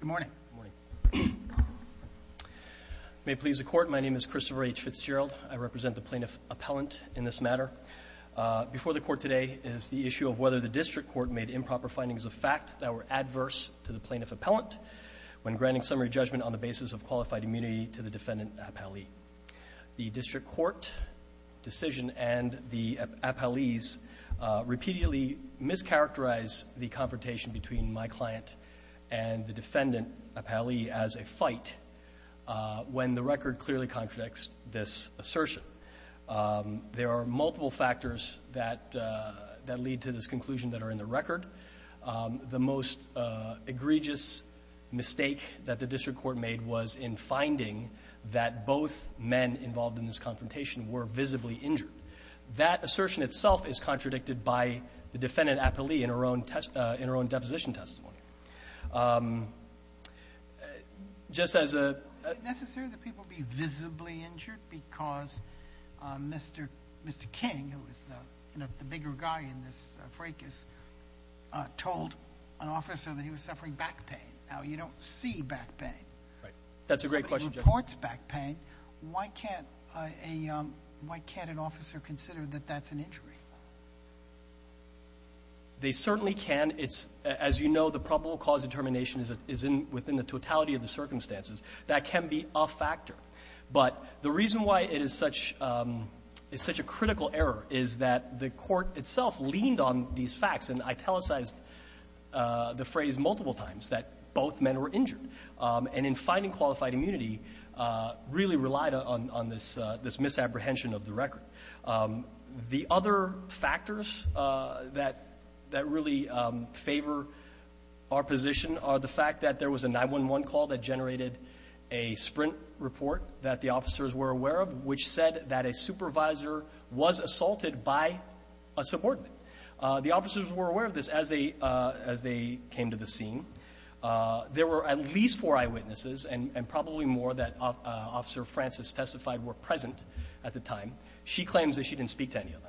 Good morning. May it please the Court, my name is Christopher H. Fitzgerald. I represent the Plaintiff Appellant in this matter. Before the Court today is the issue of whether the District Court made improper findings of fact that were adverse to the Plaintiff Appellant when granting summary judgment on the basis of qualified immunity to the defendant appellee. The District Court decision and the appellee's repeatedly mischaracterize the confrontation between my client and the defendant appellee as a fight when the record clearly contradicts this assertion. There are multiple factors that lead to this conclusion that are in the record. The most egregious mistake that the District Court made was in finding that both men involved in this confrontation were visibly injured. That assertion itself is contradicted by the defendant appellee in her own deposition testimony. Is it necessary that people be visibly injured because Mr. King, who is the bigger guy in this fracas, told an officer that he was suffering back pain? Now, you don't see back pain. That's a great question. If somebody reports back pain, why can't an officer consider that that's an injury? They certainly can. It's as you know, the probable cause determination is within the totality of the circumstances. That can be a factor. But the reason why it is such a critical error is that the Court itself leaned on these facts and italicized the phrase multiple times that both men were injured. And in finding qualified immunity, really relied on this misapprehension of the record. The other factors that really favor our position are the fact that there was a 911 call that generated a sprint report that the officers were aware of, which said that a supervisor was assaulted by a subordinate. The officers were aware of this as they came to the scene. There were at least four eyewitnesses and probably more that Officer Francis testified were present at the time. She claims that she didn't speak to any of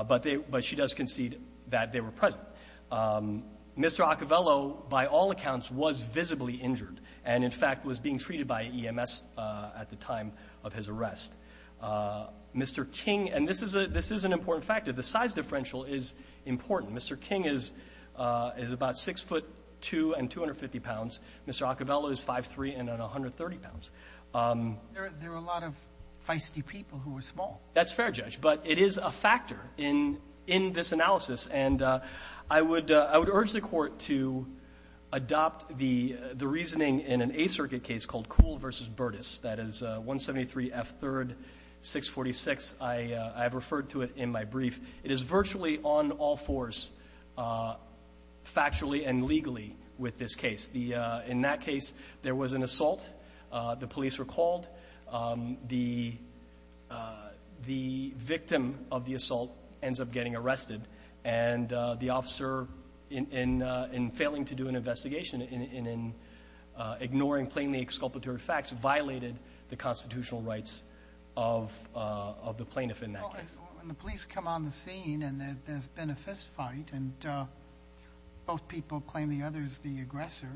them, but she does concede that they were present. Mr. Acovello, by all accounts, was visibly injured and, in fact, was being treated by EMS at the time of his arrest. Mr. King, and this is an important factor, the size differential is important. Mr. King is about 6'2 and 250 pounds. Mr. Acovello is 5'3 and 130 pounds. There were a lot of feisty people who were small. That's fair, Judge. But it is a factor in this analysis. And I would urge the Court to adopt the reasoning in an Eighth Circuit case called Kuhl v. Burtis, that is 173F3-646. I have referred to it in my brief. It is virtually on all fours factually and legally with this case. In that case, there was an assault. The police were called. The victim of the assault ends up getting arrested. And the officer, in failing to do an investigation, in ignoring plainly exculpatory facts, violated the constitutional rights of the plaintiff in that case. When the police come on the scene and there's been a fist fight and both people claim the other is the aggressor,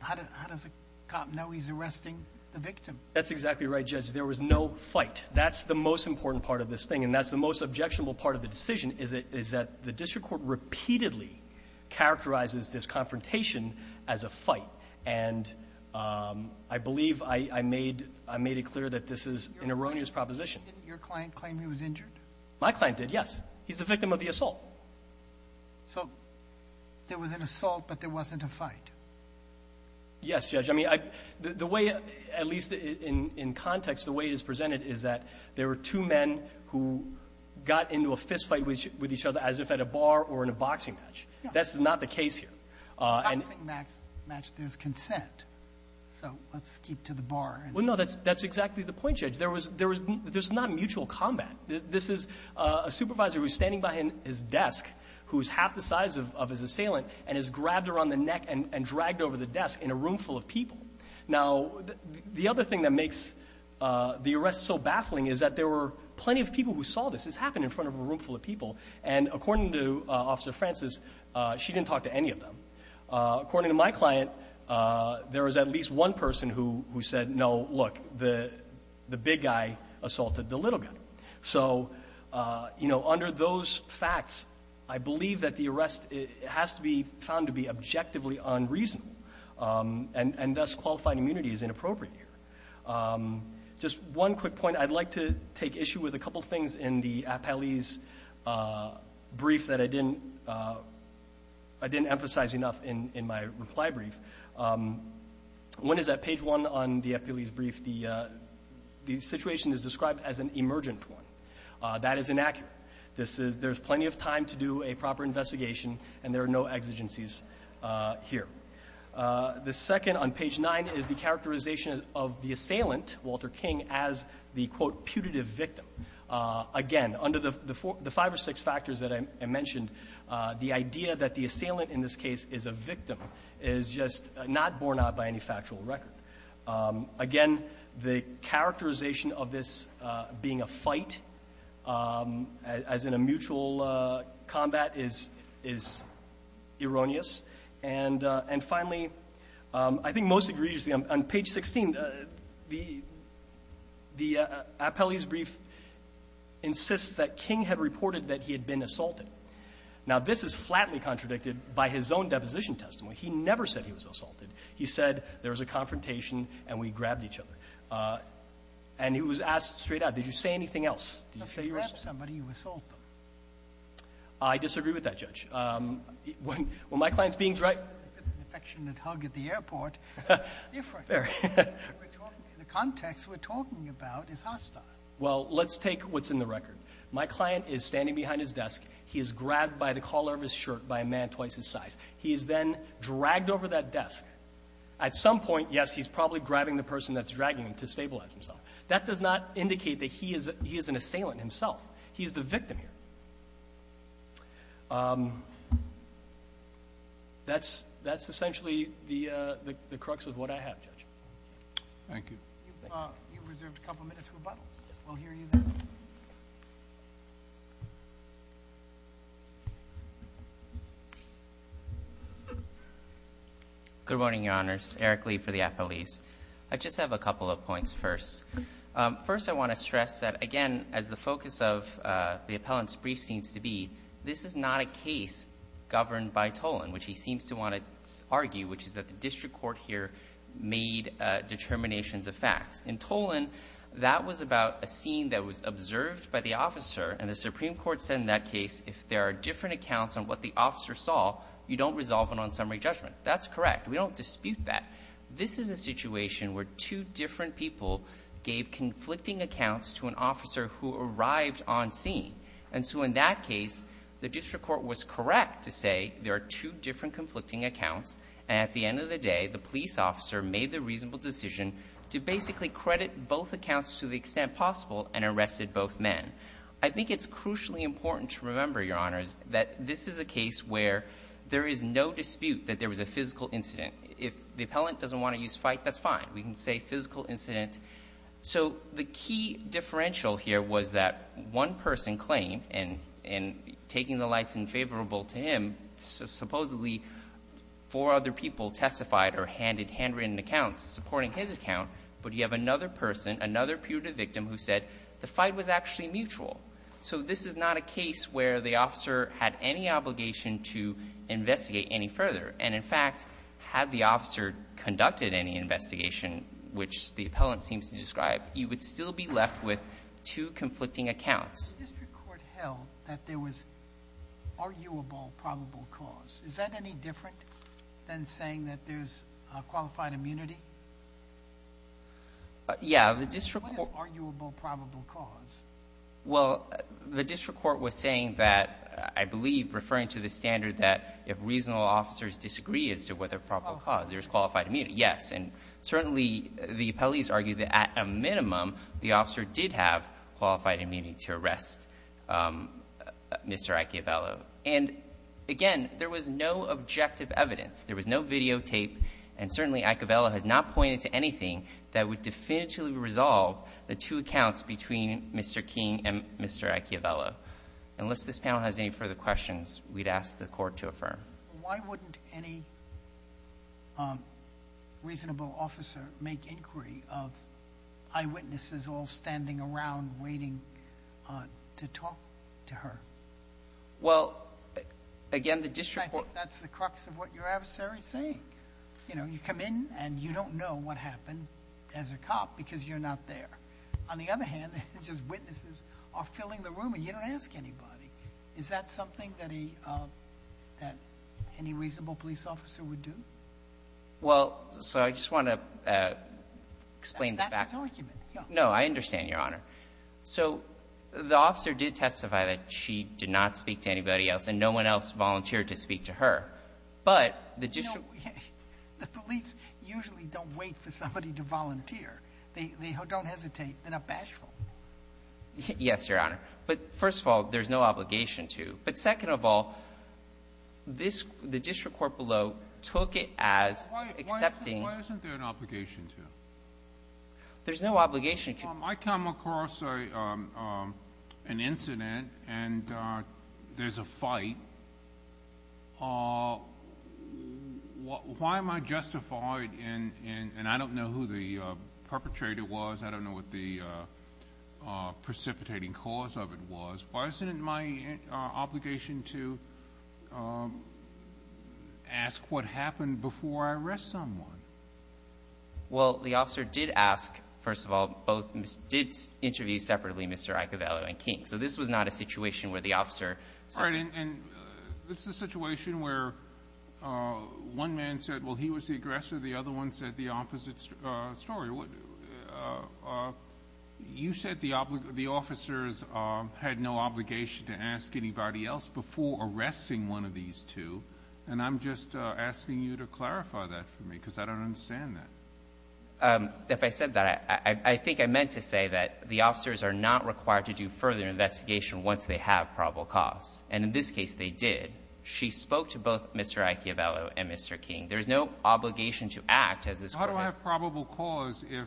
how does a cop know he's arresting the victim? That's exactly right, Judge. There was no fight. That's the most important part of this thing, and that's the most objectionable part of the decision, is that the district court repeatedly characterizes this confrontation as a fight. And I believe I made it clear that this is an erroneous proposition. Didn't your client claim he was injured? My client did, yes. He's the victim of the assault. So there was an assault, but there wasn't a fight? Yes, Judge. I mean, the way, at least in context, the way it is presented is that there were two men who got into a fist fight with each other as if at a bar or in a boxing match. That's not the case here. In a boxing match, there's consent. So let's keep to the bar. Well, no, that's exactly the point, Judge. There's not mutual combat. This is a supervisor who's standing by his desk who's half the size of his assailant and has grabbed her on the neck and dragged her over the desk in a room full of people. Now, the other thing that makes the arrest so baffling is that there were plenty of people who saw this. This happened in front of a room full of people. And according to Officer Francis, she didn't talk to any of them. According to my client, there was at least one person who said, no, look, the big guy assaulted the little guy. So, you know, under those facts, I believe that the arrest has to be found to be objectively unreasonable. And thus, qualified immunity is inappropriate here. Just one quick point. I'd like to take issue with a couple of things in the appellee's brief that I didn't emphasize enough in my reply brief. One is that page one on the appellee's brief, the situation is described as an emergent one. That is inaccurate. There's plenty of time to do a proper investigation, and there are no exigencies here. The second on page nine is the characterization of the assailant, Walter King, as the, quote, putative victim. Again, under the five or six factors that I mentioned, the idea that the assailant in this case is a victim is just not borne out by any factual record. Again, the characterization of this being a fight, as in a mutual combat, is erroneous. And finally, I think most egregiously on page 16, the appellee's brief insists that King had reported that he had been assaulted. Now, this is flatly contradicted by his own deposition testimony. He never said he was assaulted. He said there was a confrontation and we grabbed each other. And he was asked straight out, did you say anything else? Did you say you were assaulted? I disagree with that, Judge. When my client's being is right, the context we're talking about is hostile. Well, let's take what's in the record. My client is standing behind his desk. He is grabbed by the collar of his shirt by a man twice his size. He is then dragged over that desk. At some point, yes, he's probably grabbing the person that's dragging him to stabilize himself. That does not indicate that he is an assailant himself. He is the victim here. That's essentially the crux of what I have, Judge. Thank you. You've reserved a couple minutes for rebuttal. We'll hear you then. Good morning, Your Honors. Eric Lee for the appellees. I just have a couple of points first. First, I want to stress that, again, as the focus of the appellant's brief seems to be, this is not a case governed by Tolan, which he seems to want to argue, which is that the district court here made determinations of facts. In Tolan, that was about a scene that was observed by the officer, and the Supreme Court said in that case if there are different accounts on what the officer saw, you don't resolve it on summary judgment. That's correct. We don't dispute that. This is a situation where two different people gave conflicting accounts to an officer who arrived on scene. And so in that case, the district court was correct to say there are two different conflicting accounts and at the end of the day, the police officer made the reasonable decision to basically credit both accounts to the extent possible and arrested both men. I think it's crucially important to remember, Your Honors, that this is a case where there is no dispute that there was a physical incident. If the appellant doesn't want to use fight, that's fine. We can say physical incident. So the key differential here was that one person claimed, and taking the lights in favorable to him, supposedly four other people testified or handed handwritten accounts supporting his account, but you have another person, another punitive victim who said the fight was actually mutual. So this is not a case where the officer had any obligation to investigate any further. And, in fact, had the officer conducted any investigation, which the appellant seems to describe, you would still be left with two conflicting accounts. The district court held that there was arguable probable cause. Is that any different than saying that there's qualified immunity? Yeah. What is arguable probable cause? Well, the district court was saying that, I believe, referring to the standard that if reasonable officers disagree as to whether there's probable cause, there's qualified immunity. Yes, and certainly the appellees argued that at a minimum, the officer did have to arrest Mr. Iacobello. And, again, there was no objective evidence. There was no videotape. And certainly Iacobello had not pointed to anything that would definitively resolve the two accounts between Mr. King and Mr. Iacobello. Unless this panel has any further questions, we'd ask the Court to affirm. Why wouldn't any reasonable officer make inquiry of eyewitnesses all standing around waiting to talk to her? Well, again, the district court. I think that's the crux of what your adversary is saying. You know, you come in and you don't know what happened as a cop because you're not there. On the other hand, it's just witnesses are filling the room and you don't ask anybody. Is that something that any reasonable police officer would do? Well, so I just want to explain the facts. That's his argument. No, I understand, Your Honor. So the officer did testify that she did not speak to anybody else and no one else volunteered to speak to her. But the district ---- You know, the police usually don't wait for somebody to volunteer. They don't hesitate. They're not bashful. Yes, Your Honor. But, first of all, there's no obligation to. But, second of all, this the district court below took it as accepting ---- Why isn't there an obligation to? There's no obligation to. I come across an incident and there's a fight. Why am I justified in, and I don't know who the perpetrator was. I don't know what the precipitating cause of it was. Why isn't it my obligation to ask what happened before I arrest someone? Well, the officer did ask, first of all, both ---- did interview separately Mr. Icavalo and King. So this was not a situation where the officer said ---- All right. And this is a situation where one man said, well, he was the aggressor, the other one said the opposite story. You said the officers had no obligation to ask anybody else before arresting one of these two. And I'm just asking you to clarify that for me because I don't understand that. If I said that, I think I meant to say that the officers are not required to do further investigation once they have probable cause. And in this case they did. She spoke to both Mr. Icavalo and Mr. King. There's no obligation to act as this court has. How do I have probable cause if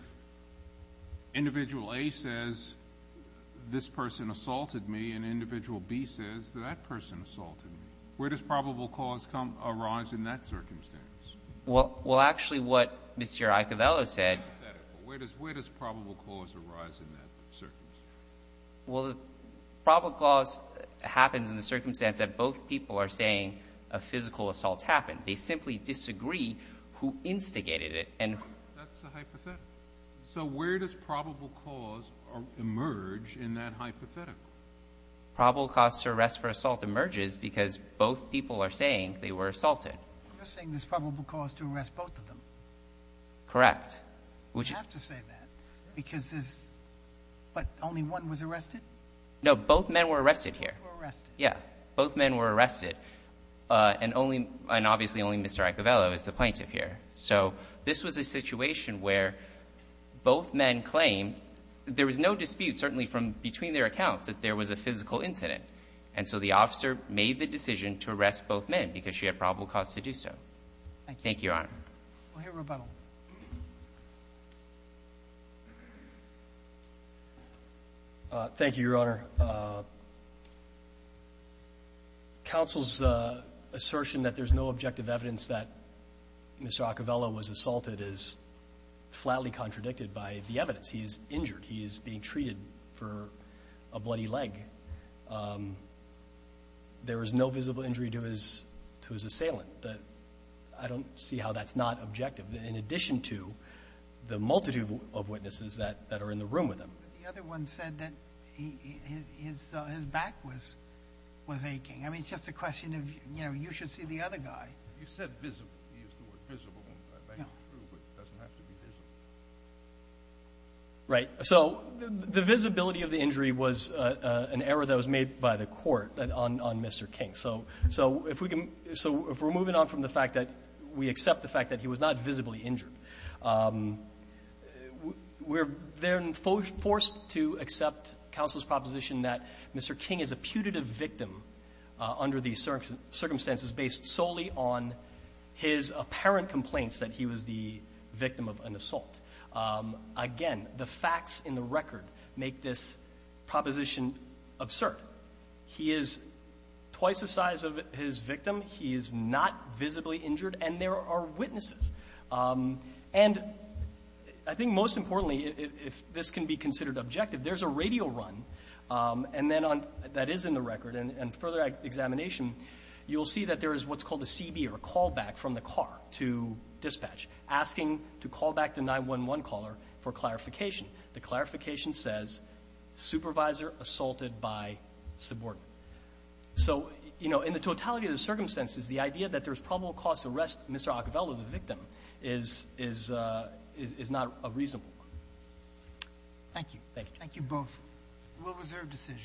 individual A says this person assaulted me and individual B says that person assaulted me? Where does probable cause arise in that circumstance? Well, actually what Mr. Icavalo said ---- Hypothetical. Where does probable cause arise in that circumstance? Well, probable cause happens in the circumstance that both people are saying a physical assault happened. They simply disagree who instigated it. That's a hypothetical. So where does probable cause emerge in that hypothetical? Probable cause for arrest for assault emerges because both people are saying they were assaulted. You're saying there's probable cause to arrest both of them. Correct. You have to say that because there's ---- But only one was arrested? No. Both men were arrested here. They were arrested. Yeah. Both men were arrested. And only Mr. Icavalo is the plaintiff here. So this was a situation where both men claimed there was no dispute, certainly from between their accounts, that there was a physical incident. And so the officer made the decision to arrest both men because she had probable cause to do so. Thank you. Thank you, Your Honor. We'll hear rebuttal. Thank you, Your Honor. Counsel's assertion that there's no objective evidence that Mr. Icavalo was assaulted is flatly contradicted by the evidence. He is injured. He is being treated for a bloody leg. There was no visible injury to his assailant. I don't see how that's not objective, in addition to the multitude of witnesses that are in the room with him. The other one said that his back was aching. I mean, it's just a question of, you know, you should see the other guy. You said visible. You used the word visible when the fact is true, but it doesn't have to be visible. Right. So the visibility of the injury was an error that was made by the court on Mr. King. So if we're moving on from the fact that we accept the fact that he was not visibly injured, we're then forced to accept counsel's proposition that Mr. King is a putative victim under the circumstances based solely on his apparent complaints that he was the assailant. Again, the facts in the record make this proposition absurd. He is twice the size of his victim. He is not visibly injured. And there are witnesses. And I think most importantly, if this can be considered objective, there's a radio run, and then on that is in the record, and further examination, you'll see that there for clarification. The clarification says supervisor assaulted by subordinate. So, you know, in the totality of the circumstances, the idea that there's probable cause to arrest Mr. Acovello, the victim, is not a reasonable one. Thank you. Thank you. Thank you both. We'll reserve decisions.